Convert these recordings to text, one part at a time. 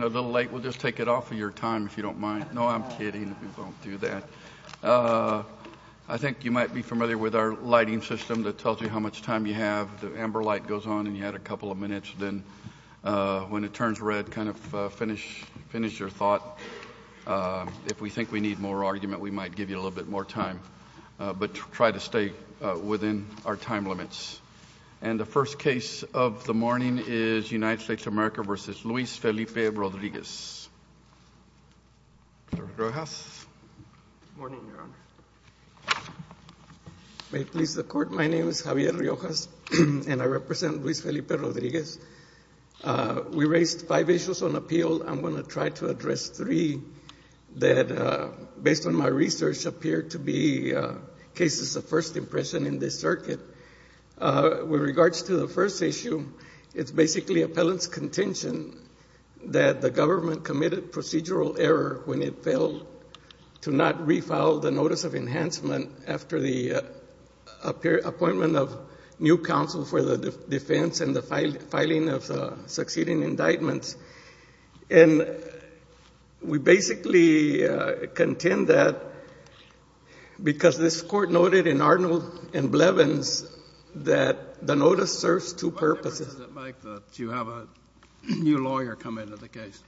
a little late we'll just take it off of your time if you don't mind no I'm kidding don't do that I think you might be familiar with our lighting system that tells you how much time you have the amber light goes on and you had a couple of minutes then when it turns red kind of finish finish your thought if we think we need more argument we might give you a little bit more time but try to stay within our time limits and the first case of the morning is United Felipe Rodriguez may please the court my name is Javier Riojas and I represent Luis Felipe Rodriguez we raised five issues on appeal I'm going to try to address three that based on my research appear to be cases of first impression in this circuit with regards to the first issue it's basically appellants contention that the government committed procedural error when it failed to not refile the notice of enhancement after the appear appointment of new counsel for the defense and the filing of succeeding indictments and we basically contend that because this court noted in Arnold and Blevins that the notice serves two purposes you have a new lawyer come into the case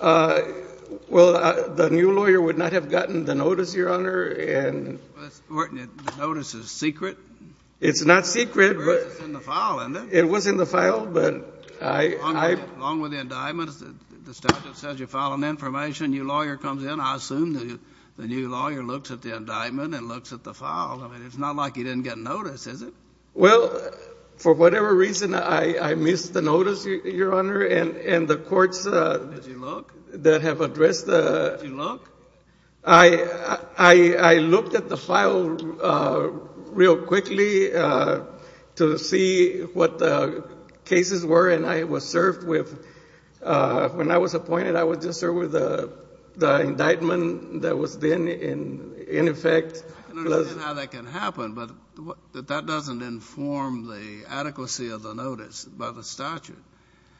well the new lawyer would not have gotten the notice your honor and notices secret it's not secret it was in the file but I along with the indictments the statute says you're following information your lawyer comes in I assume that the new lawyer looks at the indictment and looks at the file I mean it's not like you didn't get notice is it well for whatever reason I missed the notice your honor and and the courts that have addressed the I I looked at the file real quickly to see what the cases were and I was served with when I was appointed I was just with the indictment that was then in in effect that can happen but that doesn't inform the adequacy of the notice by the statute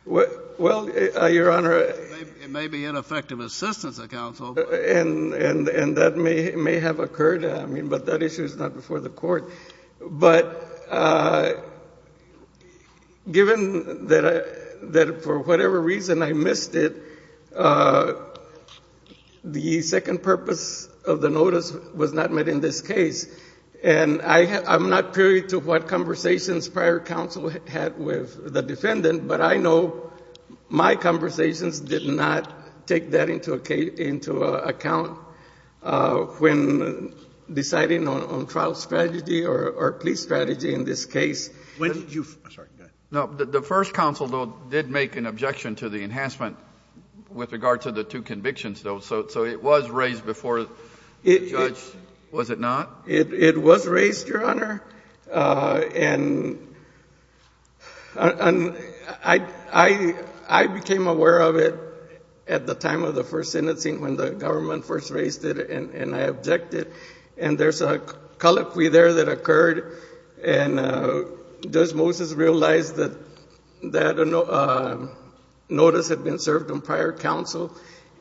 what well your honor it may be ineffective assistance of counsel and and and that may may have occurred I mean but that issue is not before the court but given that I that for whatever reason I missed it the second purpose of the notice was not met in this case and I I'm not period to what conversations prior counsel had with the defendant but I know my conversations did not take that into a case into account when deciding on trial strategy or police strategy in this case no the first counsel though did make an objection to the enhancement with regard to the two convictions though so it was raised before it was it not it was raised your honor and I I I became aware of it at the time of the first sentencing when the government first raised it and I objected and there's a colloquy there that occurred and does Moses realize that that notice had been served on prior counsel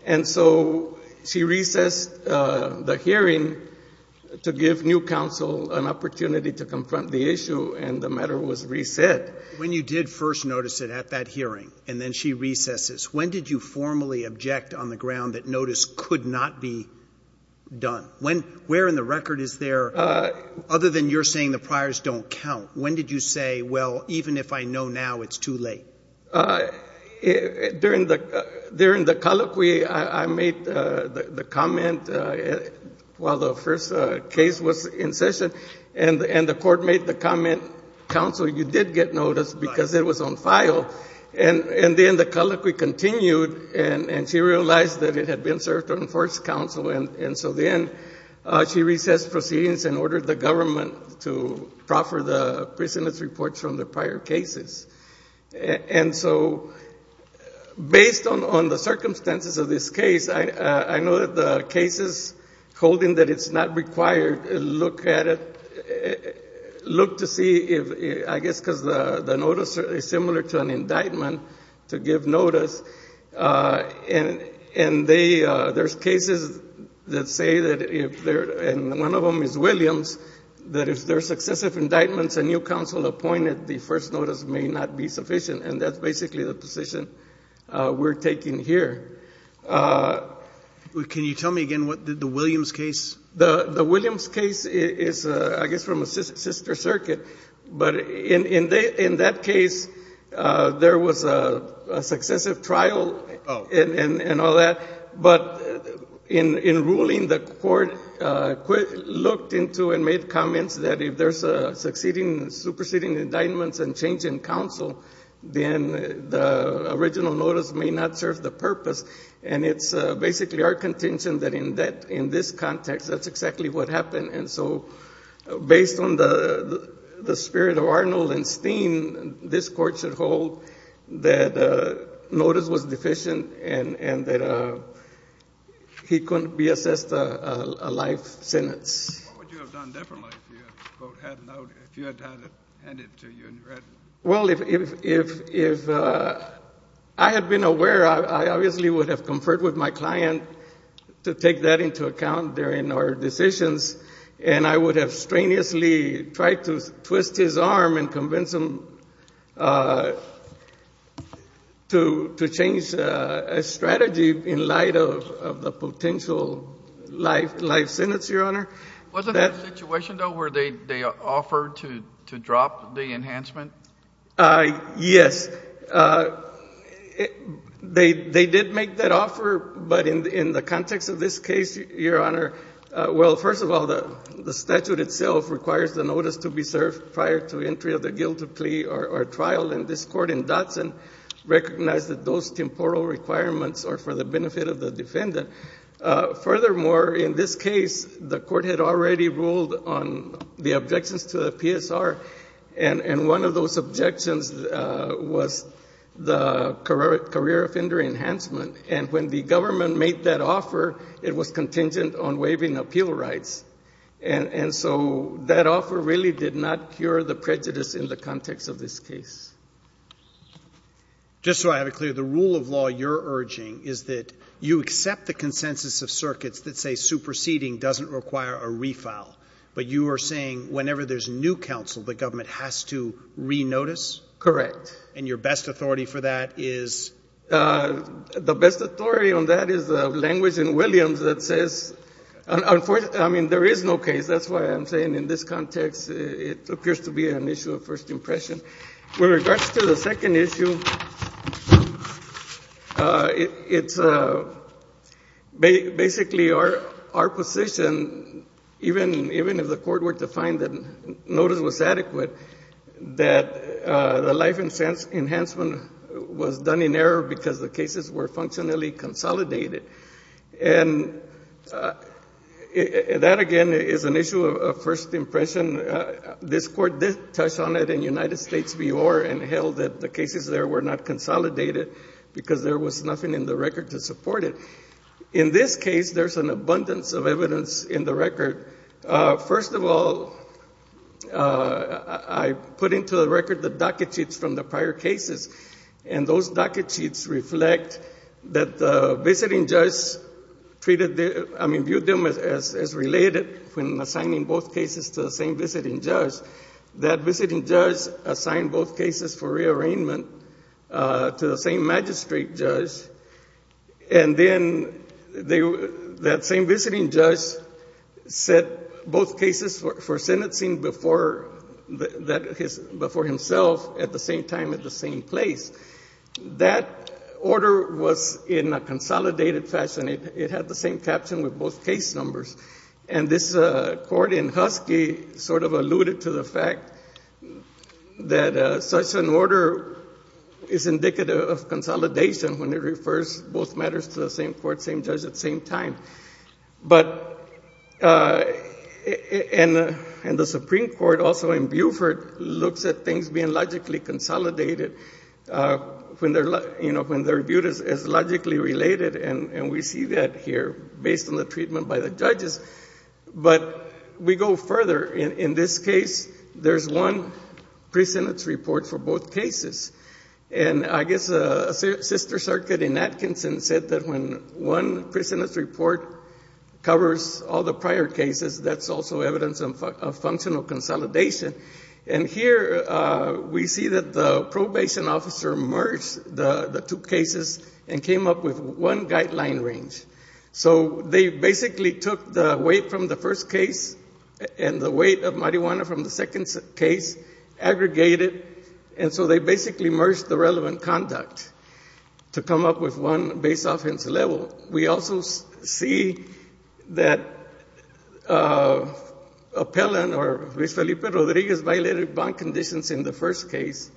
and so she recessed the hearing to give new counsel an opportunity to confront the issue and the matter was reset when you did first notice it at that hearing and then she recesses when did you formally object on the ground that notice could not be done when where in the record is there other than you're saying the priors don't count when did you say well even if I know now it's too late during the during the colloquy I made the comment while the first case was in session and and the court made the comment counsel you did get notice because it was on file and and then the colloquy continued and and she realized that it had been served on first counsel and and so then she says proceedings and ordered the government to proffer the prisoners reports from the prior cases and so based on on the circumstances of this case I I know that the cases holding that it's not required look at it look to see if I guess because the the notice is similar to an indictment to give notice and and they there's cases that say that if they're and one of them is Williams that is their successive indictments a new counsel appointed the first notice may not be sufficient and that's basically the position we're taking here can you tell me again what did the Williams case the the Williams case is I guess from a sister circuit but in in that case there was a successive trial and all that but in in ruling the court looked into and made comments that if there's a succeeding superseding indictments and change in counsel then the original notice may not serve the purpose and it's basically our contention that in that in this context that's exactly what happened and so based on the the spirit of Arnold and steam this court should hold that notice was deficient and and that he couldn't be assessed a life sentence well if I had been aware I obviously would have conferred with my client to take that into account there in our decisions and I would have strenuously tried to twist his arm and convince him to to change a strategy in light of the potential life life sentence your honor was a situation though where they they offered to drop the enhancement I yes they they did make that offer but in the in the context of this case your honor well first of all the statute itself requires the notice to be served prior to entry of the guilty plea or trial in this court in Dotson recognize that those temporal requirements are for the benefit of the defendant furthermore in this case the court had already ruled on the objections to the PSR and and one of those objections was the career career it was contingent on waiving appeal rights and and so that offer really did not cure the prejudice in the context of this case just so I have a clear the rule of law you're urging is that you accept the consensus of circuits that say superseding doesn't require a refile but you are saying whenever there's new counsel the government has to renotice correct and your best authority for that is the best authority on that is the language in Williams that says I mean there is no case that's why I'm saying in this context it appears to be an issue of first impression with regards to the second issue it's basically our our position even even if the court were to find that notice was adequate that the life and sense enhancement was done in error because the cases were functionally consolidated and that again is an issue of first impression this court did touch on it in United States VR and held that the cases there were not consolidated because there was nothing in the record to support it in this case there's an abundance of evidence in the record first of all I put into the record the docket sheets from the prior cases and those docket sheets reflect that the visiting judge treated the I mean viewed them as related when assigning both cases to the same visiting judge that visiting judge assigned both cases for rearrangement to the same magistrate judge and then they that same visiting judge said both cases were for sentencing before that his before himself at the same time at the same place that order was in a consolidated fashion it had the same caption with both case numbers and this court in Husky sort of alluded to the fact that such an order is indicative of consolidation when it refers both matters to the same court same judge at the same time but and and the Supreme Court also in Buford looks at things being logically consolidated when they're like you know when they're viewed as logically related and and we see that here based on the treatment by the judges but we go further in this case there's one precedence report for both cases and I guess a sister circuit in Atkinson said that when one precedence report covers all the prior cases that's also evidence of functional consolidation and here we see that the probation officer merged the the two cases and came up with one guideline range so they basically took the weight from the first case and the weight of marijuana from the second case aggregate it and so they basically merged the relevant conduct to come up with one base offense level we also see that appellant or Miss Felipe Rodriguez violated bond conditions in the first case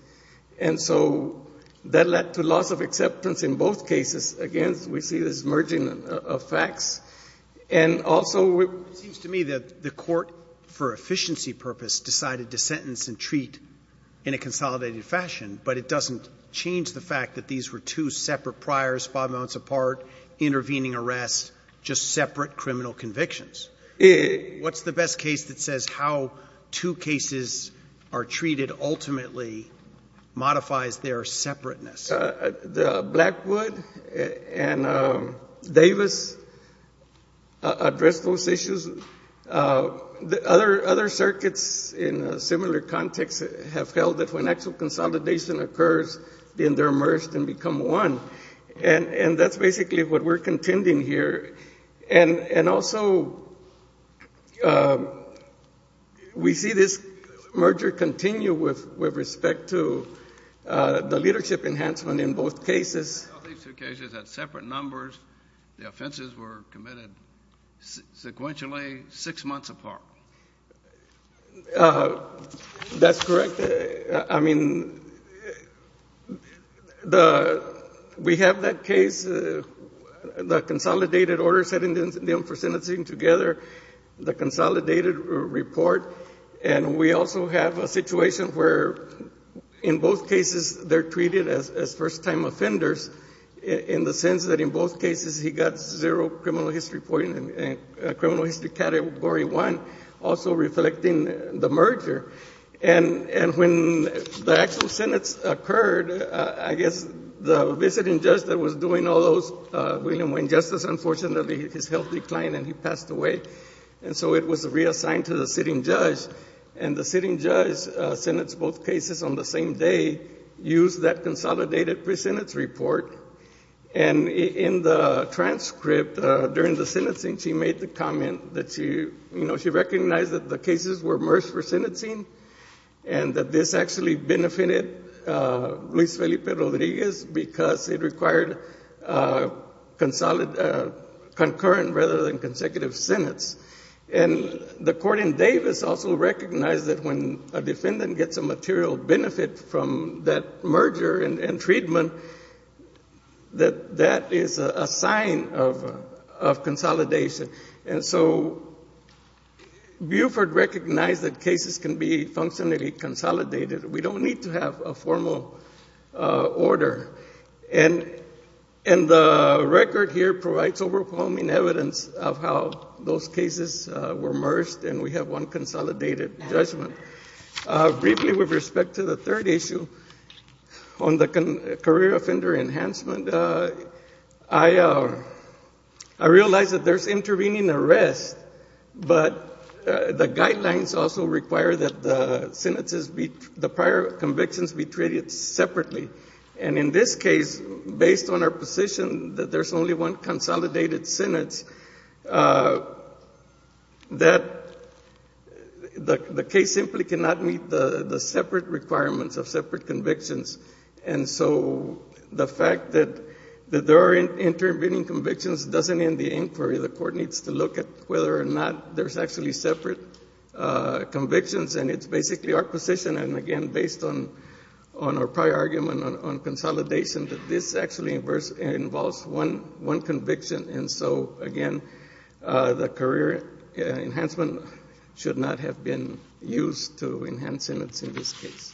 and so that led to loss of acceptance in both cases against we see this merging of facts and also it seems to me that the court for efficiency purpose decided to sentence and treat in a consolidated fashion but it doesn't change the fact that these were two separate priors five months apart intervening arrests just separate criminal convictions yeah what's the best case that says how two cases are treated ultimately modifies their separateness the Blackwood and Davis address those issues the other other circuits in a similar context have held that when actual consolidation occurs then they're immersed and become one and and that's basically what we're contending here and and also we see this merger continue with with respect to the leadership enhancement in both cases separate numbers the offenses were committed sequentially six months apart that's I mean the we have that case the consolidated order setting them for sentencing together the consolidated report and we also have a situation where in both cases they're treated as first-time offenders in the sense that in both cases he got zero criminal history point and criminal history category one also reflecting the merger and and when the actual sentence occurred I guess the visiting judge that was doing all those William Wayne justice unfortunately his health declined and he passed away and so it was reassigned to the sitting judge and the sitting judge sentence both cases on the same day use that consolidated pre-sentence report and in the transcript during the sentencing she made the comment that she you know she recognized that the cases were immersed for sentencing and that this actually benefited Luis Felipe Rodriguez because it required consolidated concurrent rather than consecutive sentence and the court in Davis also recognized that when a defendant gets a material benefit from that merger and treatment that that is a of consolidation and so Buford recognized that cases can be functionally consolidated we don't need to have a formal order and and the record here provides overwhelming evidence of how those cases were merged and we have one consolidated judgment briefly with respect to the third issue on the career offender enhancement I I realize that there's intervening arrest but the guidelines also require that the sentences be the prior convictions be treated separately and in this case based on our position that there's only one consolidated sentence that the case simply cannot meet the the separate requirements of separate convictions and so the fact that that there are intervening convictions doesn't end the inquiry the court needs to look at whether or not there's actually separate convictions and it's basically our position and again based on on our prior argument on consolidation that this actually inverse involves one one conviction and so again the career enhancement should not have been used to enhance in it's in this case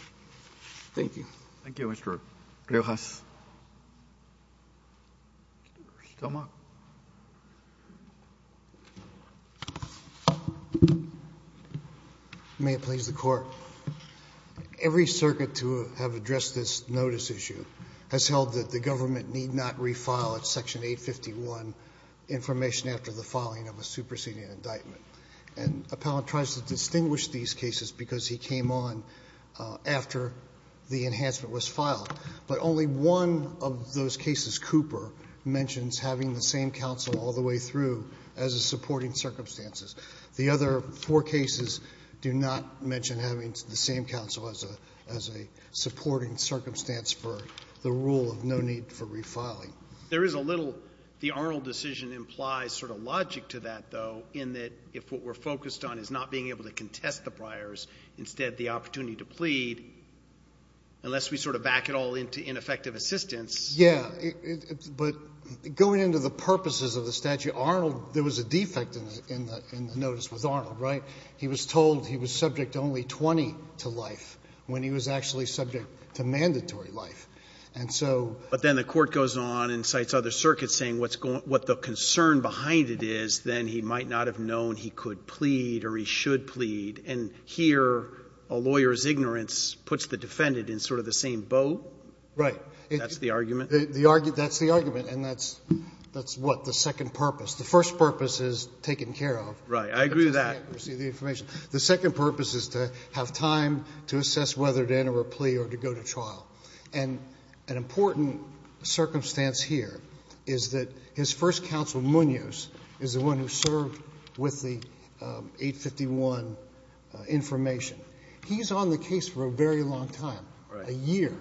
thank you thank you mr. Rios may it please the court every circuit to have addressed this notice issue has held that the government need not refile at section 851 information after the indictment and appellant tries to distinguish these cases because he came on after the enhancement was filed but only one of those cases Cooper mentions having the same counsel all the way through as a supporting circumstances the other four cases do not mention having the same counsel as a as a supporting circumstance for the rule of no need for refiling there is a little the Arnold decision implies sort of logic to that though in that if what we're focused on is not being able to contest the briars instead the opportunity to plead unless we sort of back it all into ineffective assistance yeah but going into the purposes of the statute Arnold there was a defect in the notice with Arnold right he was told he was subject to only 20 to life when he was actually subject to mandatory life and so but then the court goes on and cites other circuits saying what's going what the concern behind it is then he might not have known he could plead or he should plead and here a lawyer's ignorance puts the defendant in sort of the same boat right that's the argument the argue that's the argument and that's that's what the second purpose the first purpose is taken care of right I agree that the information the second purpose is to have time to assess whether to enter a plea or to go to trial and an important circumstance here is that his first counsel Munoz is the one who served with the 851 information he's on the case for a very long time a year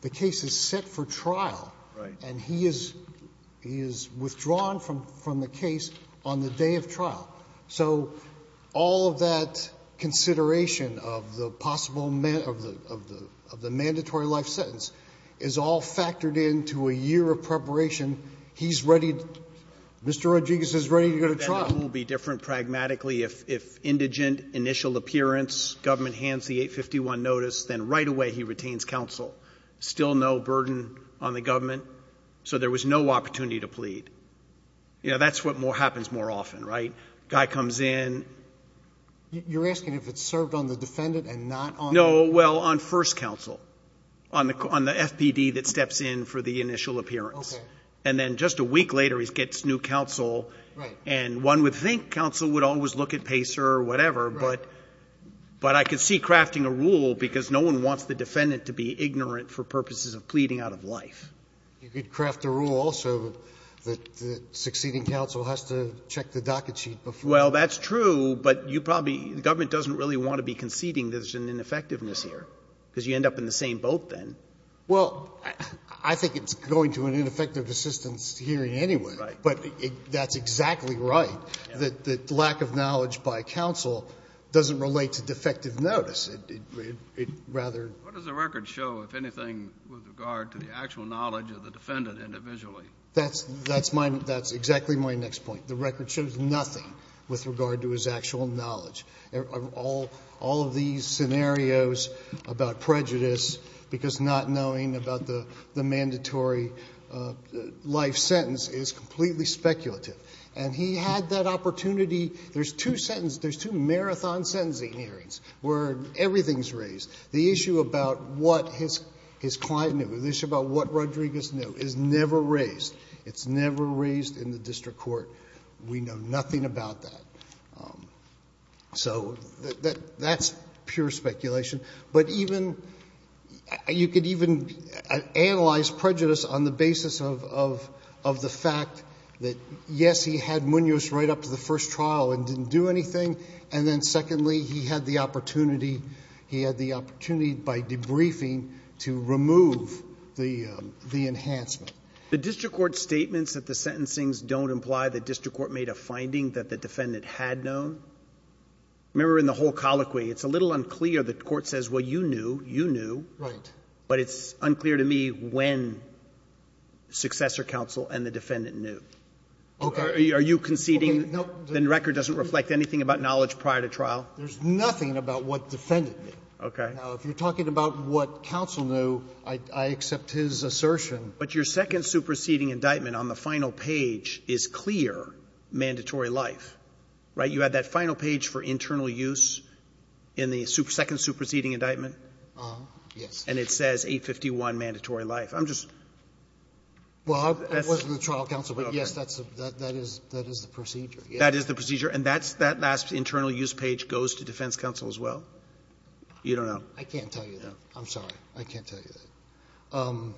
the case is set for trial right and he is he is withdrawn from from the case on the day of trial so all of that consideration of the possible men of the of the of the into a year of preparation he's ready mr. Rodriguez is ready to go to trial will be different pragmatically if indigent initial appearance government hands the 851 notice then right away he retains counsel still no burden on the government so there was no opportunity to plead you know that's what more happens more often right guy comes in you're asking if it's served on the defendant and not on no well on first counsel on the on the FPD that steps in for the initial appearance and then just a week later he gets new counsel and one would think counsel would always look at pacer or whatever but but I could see crafting a rule because no one wants the defendant to be ignorant for purposes of pleading out of life you could craft a rule also that the succeeding counsel has to check the docket sheet before well that's true but you probably the government doesn't really want to be conceding there's an ineffectiveness here because you end up in the same boat then well I think it's going to an ineffective assistance hearing anyway but that's exactly right that the lack of knowledge by counsel doesn't relate to defective notice it rather does the record show if anything with regard to the actual knowledge of the defendant individually that's that's mine that's exactly my next point the record shows nothing with regard to his actual knowledge of all all of these scenarios about prejudice because not knowing about the mandatory life sentence is completely speculative and he had that opportunity there's two sentence there's two marathon sentencing hearings where everything's raised the issue about what his his client knew this about what Rodriguez knew is never raised it's never raised in the district court we know nothing about that so that that's pure speculation but even you could even analyze prejudice on the basis of of the fact that yes he had Munoz right up to the first trial and didn't do anything and then secondly he had the opportunity he had the opportunity by debriefing to remove the the enhancement the district court statements that the sentencing's don't imply the district court made a conceding that the defendant had known remember in the whole colloquy it's a little unclear the court says what you knew you knew right but it's unclear to me when successor counsel and the defendant knew okay are you conceding the record doesn't reflect anything about knowledge prior to trial there's nothing about what defended me okay now if you're talking about what counsel knew I accept his assertion but your second superseding indictment on the final page is clear mandatory life right you had that final page for internal use in the super second superseding indictment yes and it says 851 mandatory life I'm just well that's the trial counsel but yes that's that that is that is the procedure that is the procedure and that's that last internal use page goes to defense counsel as well you don't know I can't tell you though I'm sorry I can't tell you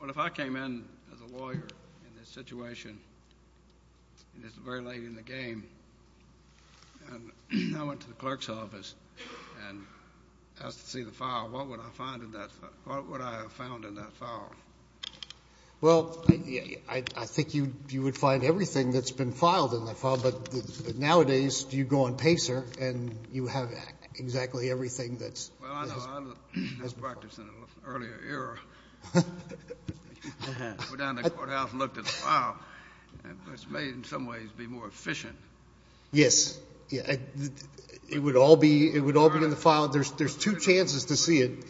but if I came in as a lawyer in this situation and it's very late in the game and I went to the clerk's office and asked to see the file what would I find in that what would I have found in that file well yeah I think you you would find everything that's been filed in the file but nowadays do you go on Pacer and you have exactly everything that's yes yeah it would all be it would all be in the file there's there's two chances to see it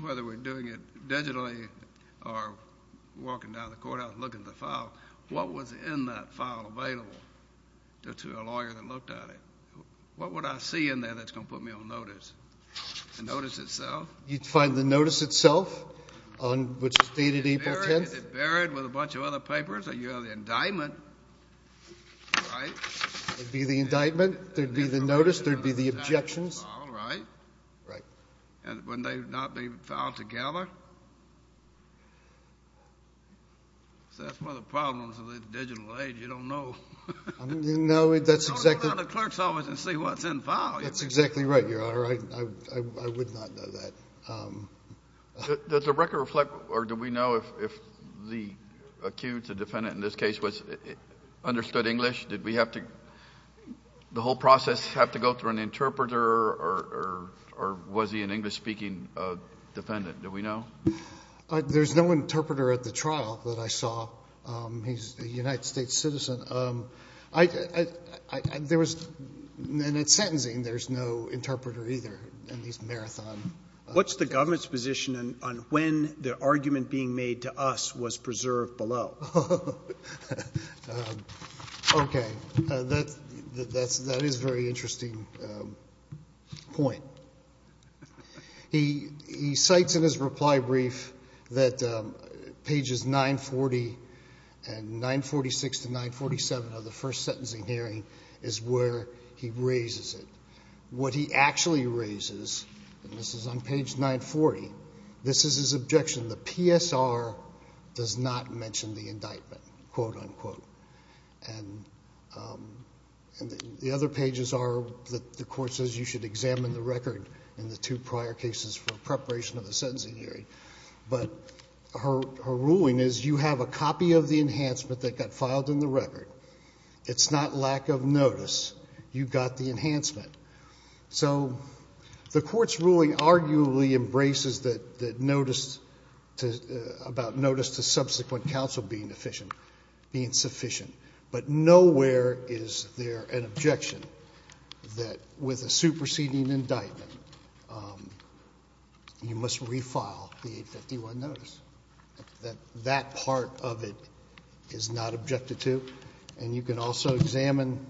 whether we're doing it digitally or walking down the courthouse looking at what was in that file available to a lawyer that looked at it what would I see in there that's gonna put me on notice notice itself you'd find the notice itself on which is dated April 10th buried with a bunch of other papers that you have the indictment be the indictment there'd be the notice there'd be the objections right and when they've not been filed together that's one of the problems of the digital age you don't know no that's exactly the clerk's office and see what's in file that's exactly right you're all right I would not know that does the record reflect or do we know if the accused a defendant in this case was understood English did we have to the whole process have to go through an interpreter or or was he an English-speaking defendant do we know there's no interpreter at the trial that I saw he's a United States citizen I there was and it's sentencing there's no interpreter either and he's marathon what's the government's position on when the argument being made to us was preserved below okay that that's that is very interesting point he he cites in his reply brief that pages 940 and 946 to 947 of the first sentencing hearing is where he raises it what he actually raises and this is on does not mention the indictment quote-unquote and the other pages are that the court says you should examine the record in the two prior cases for preparation of the sentencing hearing but her ruling is you have a copy of the enhancement that got filed in the record it's not lack of notice you got the notice to subsequent counsel being efficient being sufficient but nowhere is there an objection that with a superseding indictment you must refile the 851 notice that that part of it is not objected to and you can also examine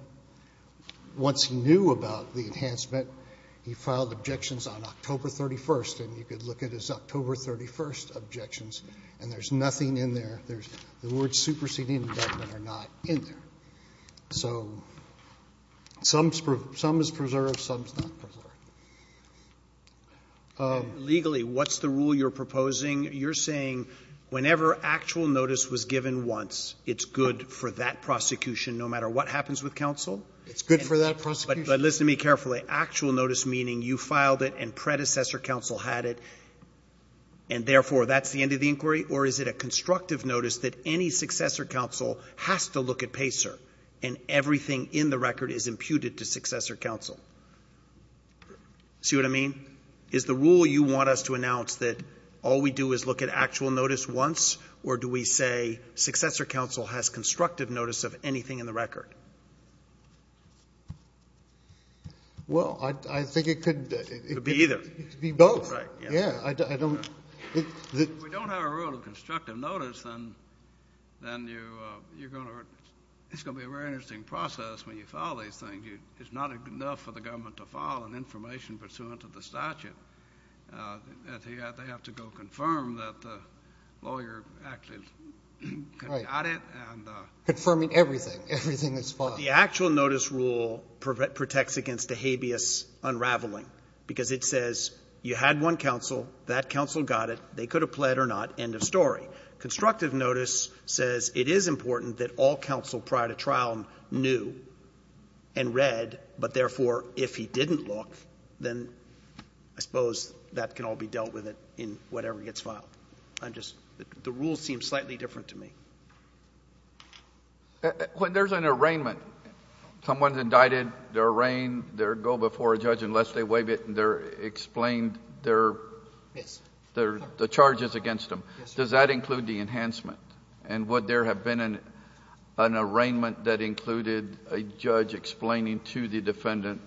once he knew about the enhancement he filed objections on October 31st and you nothing in there there's the word superseding are not in there so some spruce some is preserved some legally what's the rule you're proposing you're saying whenever actual notice was given once it's good for that prosecution no matter what happens with counsel it's good for that person but listen to me carefully actual notice meaning you filed it and predecessor counsel had it and therefore that's the end of the inquiry or is it a constructive notice that any successor counsel has to look at pacer and everything in the record is imputed to successor counsel see what I mean is the rule you want us to announce that all we do is look at actual notice once or do we say successor counsel has constructive notice of anything in the record well I think it could be either yeah I don't we don't have a rule of constructive notice and then you you're gonna it's gonna be a very interesting process when you follow these things you it's not a good enough for the government to file an information pursuant to the statute they have to go confirm that the lawyer actually got it and confirming everything everything is fine the actual notice rule protects against a habeas unraveling because it says you had one counsel that counsel got it they could have pled or not end of story constructive notice says it is important that all counsel prior to trial knew and read but therefore if he didn't look then I suppose that can all be dealt with it in whatever gets filed I'm just the rules seem slightly different to me when there's an arraignment someone's indicted their reign there go before a judge unless they waive it and they're explained their their the charges against them does that include the enhancement and what there have been in an arraignment that included a judge explaining to the defendant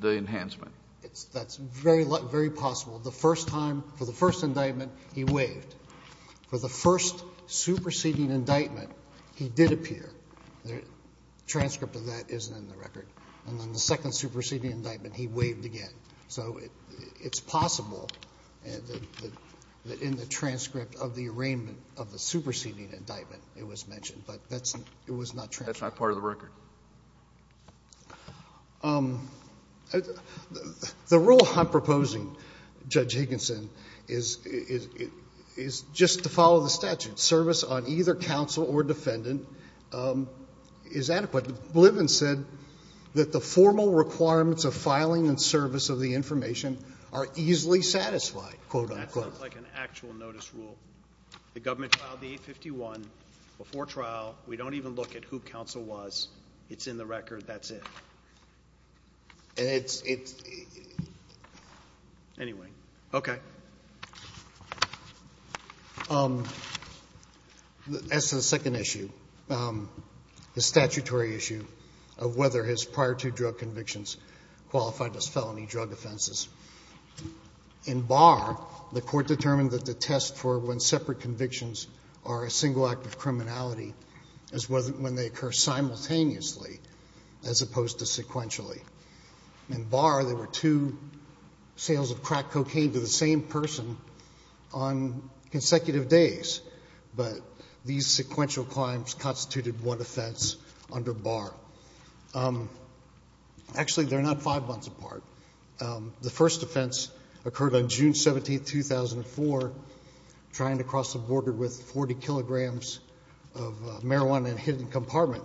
the enhancement it's that's very very possible the first time for the first indictment he waived for the first superseding indictment he did appear there transcript of that isn't in the record and then the second superseding indictment he waived again so it's possible and in the transcript of the arraignment of the superseding indictment it was mentioned but that's it was not true that's not part of the service on either counsel or defendant is adequate live and said that the formal requirements of filing and service of the information are easily satisfied quote-unquote like an actual notice rule the government filed the 851 before trial we don't even look at who counsel was it's in the record that's it it's anyway okay that's the second issue the statutory issue of whether his prior to drug convictions qualified as felony drug offenses in bar the court determined that the test for when separate convictions are a single act of criminality as well when they occur simultaneously as opposed to sequentially and bar there were two sales of crack cocaine to the same person on consecutive days but these sequential crimes constituted one offense under bar actually they're not five months apart the first offense occurred on June 17 2004 trying to cross the border with 40 kilograms of marijuana in a hidden compartment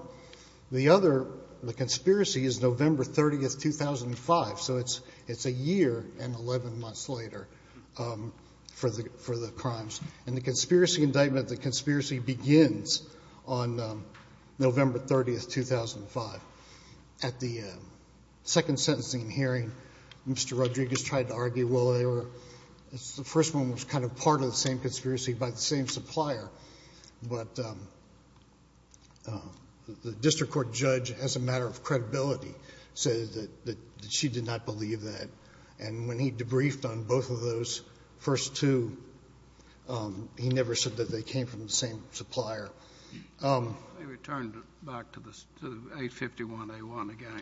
the other the conspiracy is November 30th 2005 so it's it's a year and 11 months later for the for the crimes and the conspiracy indictment the conspiracy begins on November 30th 2005 at the second sentencing hearing mr. Rodriguez tried to argue well they were it's the first one was kind of part of the same conspiracy by the same supplier but the district court judge as a matter of credibility said that she did not believe that and when he debriefed on both of those first two he never said that they came from the same supplier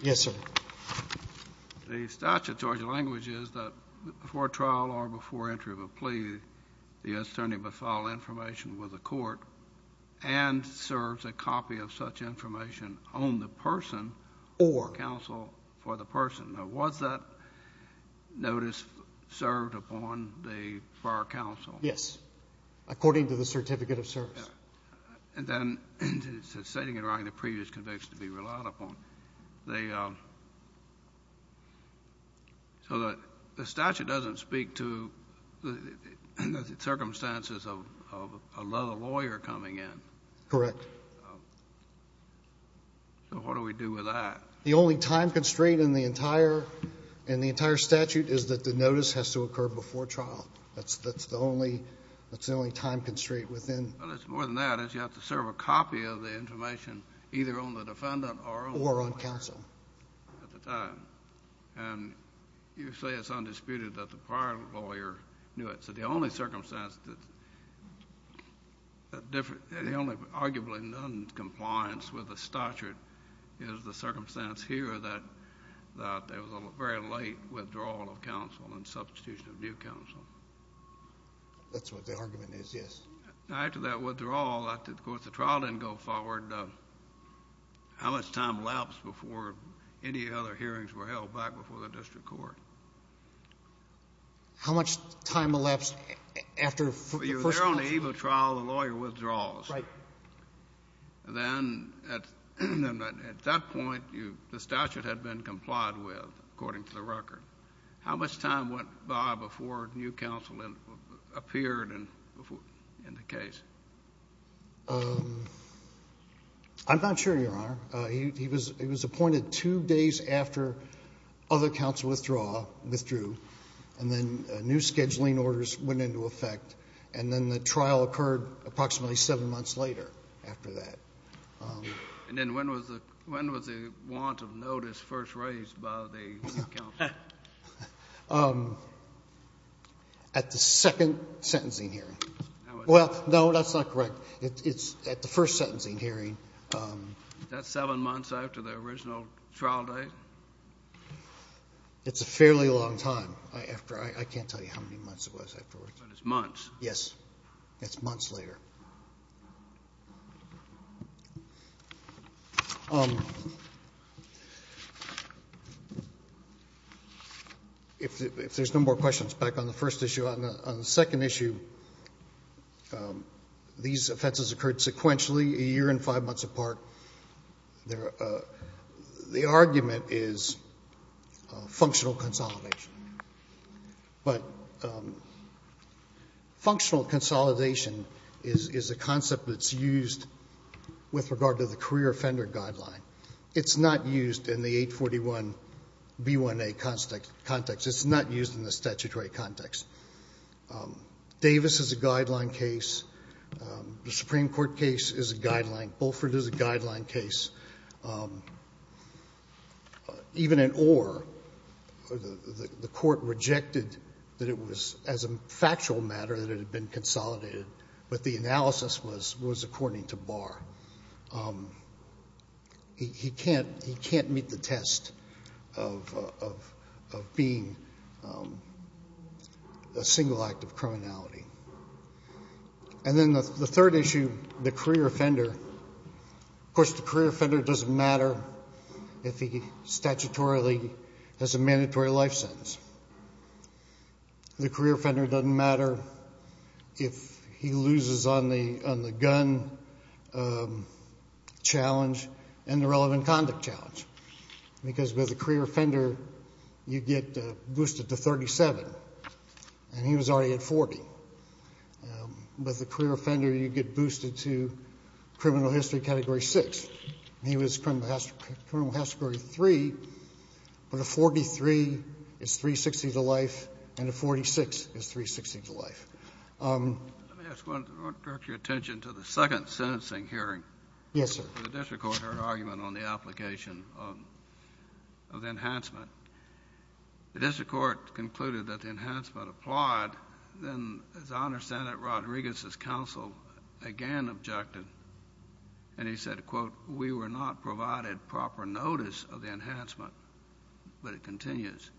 yes sir the statutory language is that before trial or before entry of a plea the attorney but file information with the court and serves a copy of such information on the person or counsel for the person now was that notice served upon the fire counsel yes according to the certificate of service and then it's a setting in writing the previous conviction to be relied upon they so that the statute doesn't speak to the circumstances of a lawyer coming in correct so what do we do with that the only time constraint in the entire and the entire statute is that the notice has to occur before trial that's that's the only that's the only time constraint within that is you have to or on counsel and you say it's undisputed that the prior lawyer knew it so the only circumstance that the only arguably non-compliance with the statute is the circumstance here that there was a very late withdrawal of counsel and substitution of new counsel that's what the argument is yes after that withdrawal of course the trial didn't go forward how much time lapsed before any other hearings were held back before the district court how much time elapsed after you're there on the eve of trial the lawyer withdrawals right then at that point you the statute had been complied with according to the record how much time went by before new counsel and appeared and before in the case I'm not sure your honor he was it was appointed two days after other counts withdraw withdrew and then new scheduling orders went into effect and then the trial occurred approximately seven months later after that and then when was the when was the want of notice first raised by the at the second sentencing hearing well no that's not correct it's at the first sentencing hearing that's seven months after the original trial date it's a fairly long time I after I can't tell you how many months it was afterwards but it's months yes it's months later if there's no more questions back on the first issue on the second issue these offenses occurred sequentially a year and five months apart the argument is functional consolidation but functional consolidation is a concept that's used with regard to the career offender guideline it's not used in the 841 B1 a constant context it's not used in the statutory context Davis is a guideline case the Supreme Court case is a guideline case even in or the court rejected that it was as a factual matter that it had been consolidated but the analysis was was according to bar he can't he can't meet the test of being a single act of criminality and then the third issue the career offender of course the career offender doesn't matter if he statutorily has a mandatory life sentence the career offender doesn't matter if he loses on the on the gun challenge and the relevant conduct challenge because with the career offender you get boosted to 37 and he was already at 40 but the career offender you get boosted to criminal history category 6 he was criminal has to grow three but a 43 is 360 the life and a 46 is 360 to life attention to the second sentencing hearing yes sir the district court heard argument on the application of the enhancement the then as I understand it Rodriguez's counsel again objected and he said quote we were not provided proper notice of the enhancement but it continues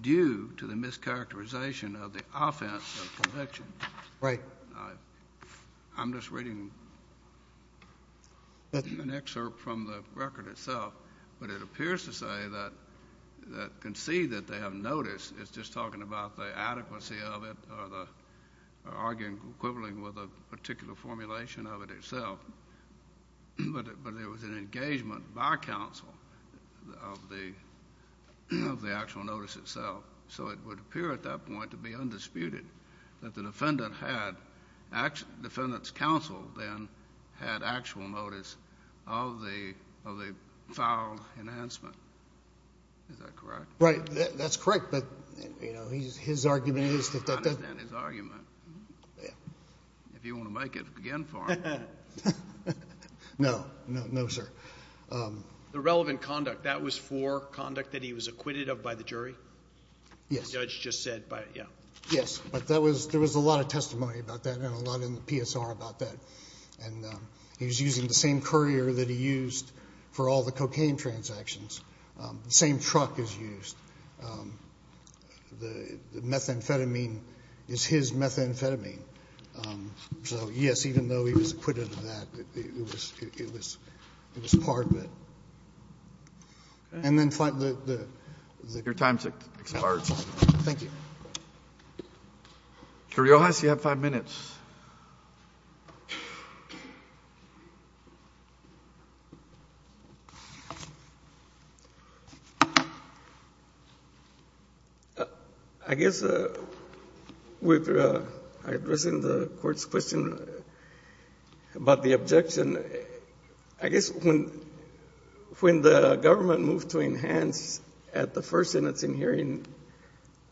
due to the mischaracterization of the offense conviction right I'm just reading an excerpt from the record itself but it appears to say that that can see that they have notice it's just talking about the adequacy of it or the arguing equivalent with a particular formulation of it itself but it was an engagement by counsel of the of the actual notice itself so it would appear at that point to be undisputed that the defendant had actually defendants counsel then had actual notice of the of the foul enhancement is that correct right that's correct but you know he's his argument is that that is argument yeah if you want to make it again for no no no sir the relevant conduct that was for conduct that he was acquitted of by the jury yes judge just said but yeah yes but that was there was a lot of testimony about that and a lot in the PSR about that and he was using the same courier that he used for all the cocaine transactions the same truck is used the methamphetamine is his methamphetamine so yes even though he was acquitted of that it was it was it was part of it and I guess with addressing the court's question about the objection I guess when when the government moved to enhance at the first sentence in hearing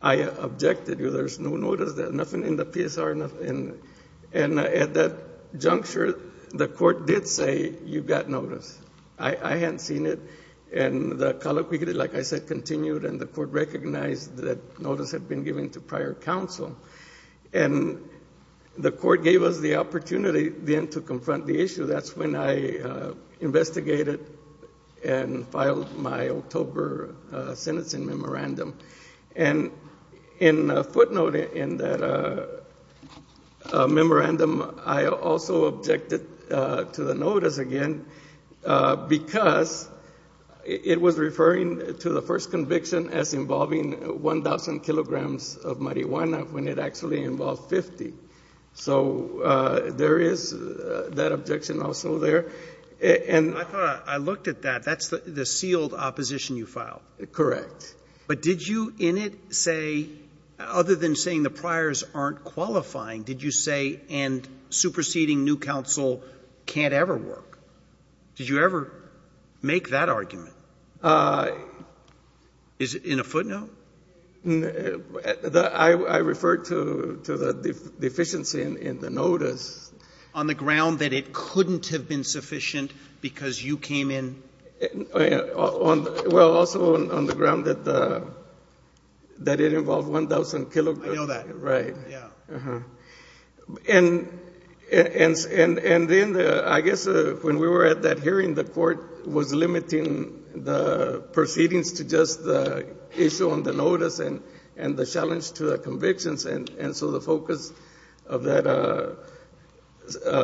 I objected you there's no notice that nothing in the PSR nothing and at that juncture the court did say you've got notice I I hadn't seen it and the color we get it like I said continued and the court recognized that notice had been given to prior counsel and the court gave us the opportunity then to confront the issue that's when I investigated and filed my October sentencing memorandum and in footnote in that memorandum I also objected to the notice again because it was referring to the first conviction as involving 1,000 kilograms of marijuana when it actually involved 50 so there is that objection also there and I looked at that that's the sealed opposition you file correct but did you in it say other than saying the priors aren't qualifying did you say and superseding new counsel can't ever work did you ever make that argument is in a footnote I referred to to the deficiency in the notice on the ground that it couldn't have been sufficient because you came in on well also on the ground that that it involved 1,000 kilo right yeah and and and and then I guess when we were at that hearing the court was limiting the proceedings to just the issue on the notice and and the challenge to the convictions and and so the focus of that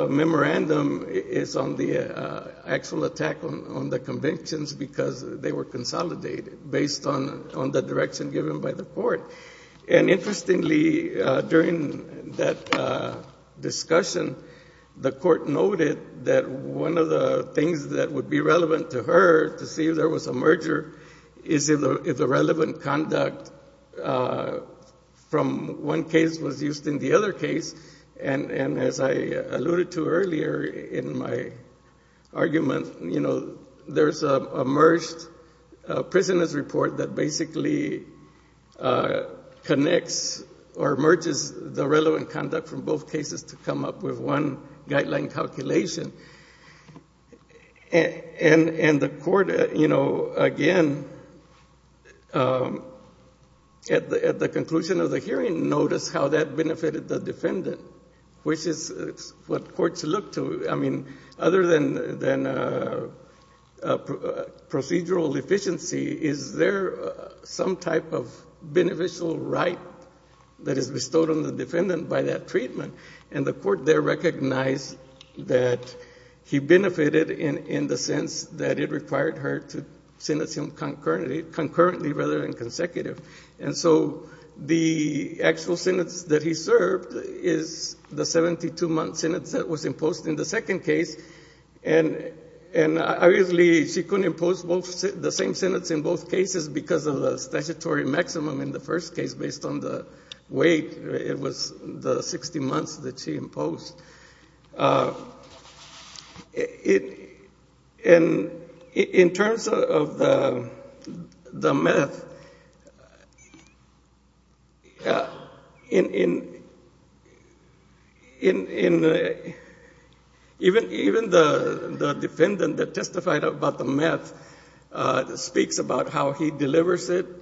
memorandum is on the actual attack on on the convictions because they were consolidated based on on the direction given by the court and interestingly during that discussion the court noted that one of the things that would be relevant to her to see if there was a merger is if the relevant conduct from one case was used in the other case and and as I alluded to earlier in my argument you know there's a merged prisoners report that basically connects or merges the relevant conduct from both cases to come up with one guideline calculation and and and the court you know again at the at the conclusion of the hearing notice how that benefited the defendant which is what courts look I mean other than than procedural deficiency is there some type of beneficial right that is bestowed on the defendant by that treatment and the court there recognized that he benefited in in the sense that it required her to sentence him concurrently concurrently rather than consecutive and so the actual sentence that he served is the 72-month sentence that was imposed in the second case and and obviously she couldn't impose both the same sentence in both cases because of the statutory maximum in the first case based on the wait it was the 60 months that she imposed it in in terms of the meth in in in in even even the defendant that testified about the meth speaks about how he and delivered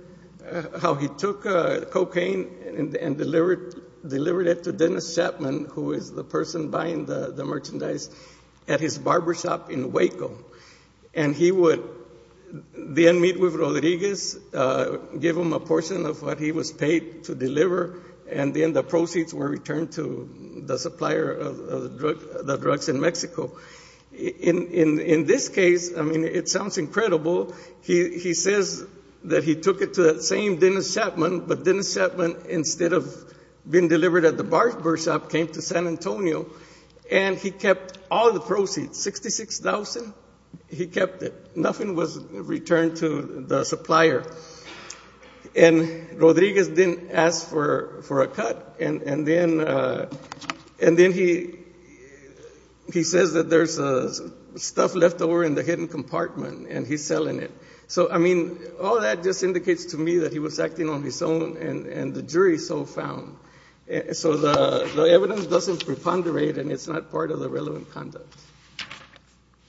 delivered it to Dennis Chapman who is the person buying the merchandise at his barbershop in Waco and he would then meet with Rodriguez give him a portion of what he was paid to deliver and then the proceeds were returned to the supplier of the drugs in Mexico in in in this case I mean it sounds incredible he he says that he took it to that same Dennis Chapman but Dennis Chapman instead of being delivered at the barbershop came to San Antonio and he kept all the proceeds 66,000 he kept it nothing was returned to the supplier and Rodriguez didn't ask for for a cut and and then and then he he says that there's a stuff left over in the hidden compartment and he's selling it so I mean all that just indicates to me that he was acting on his own and and the jury so found so the evidence doesn't preponderate and it's not part of the relevant conduct.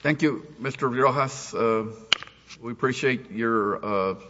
Thank you Mr. Virajas we appreciate your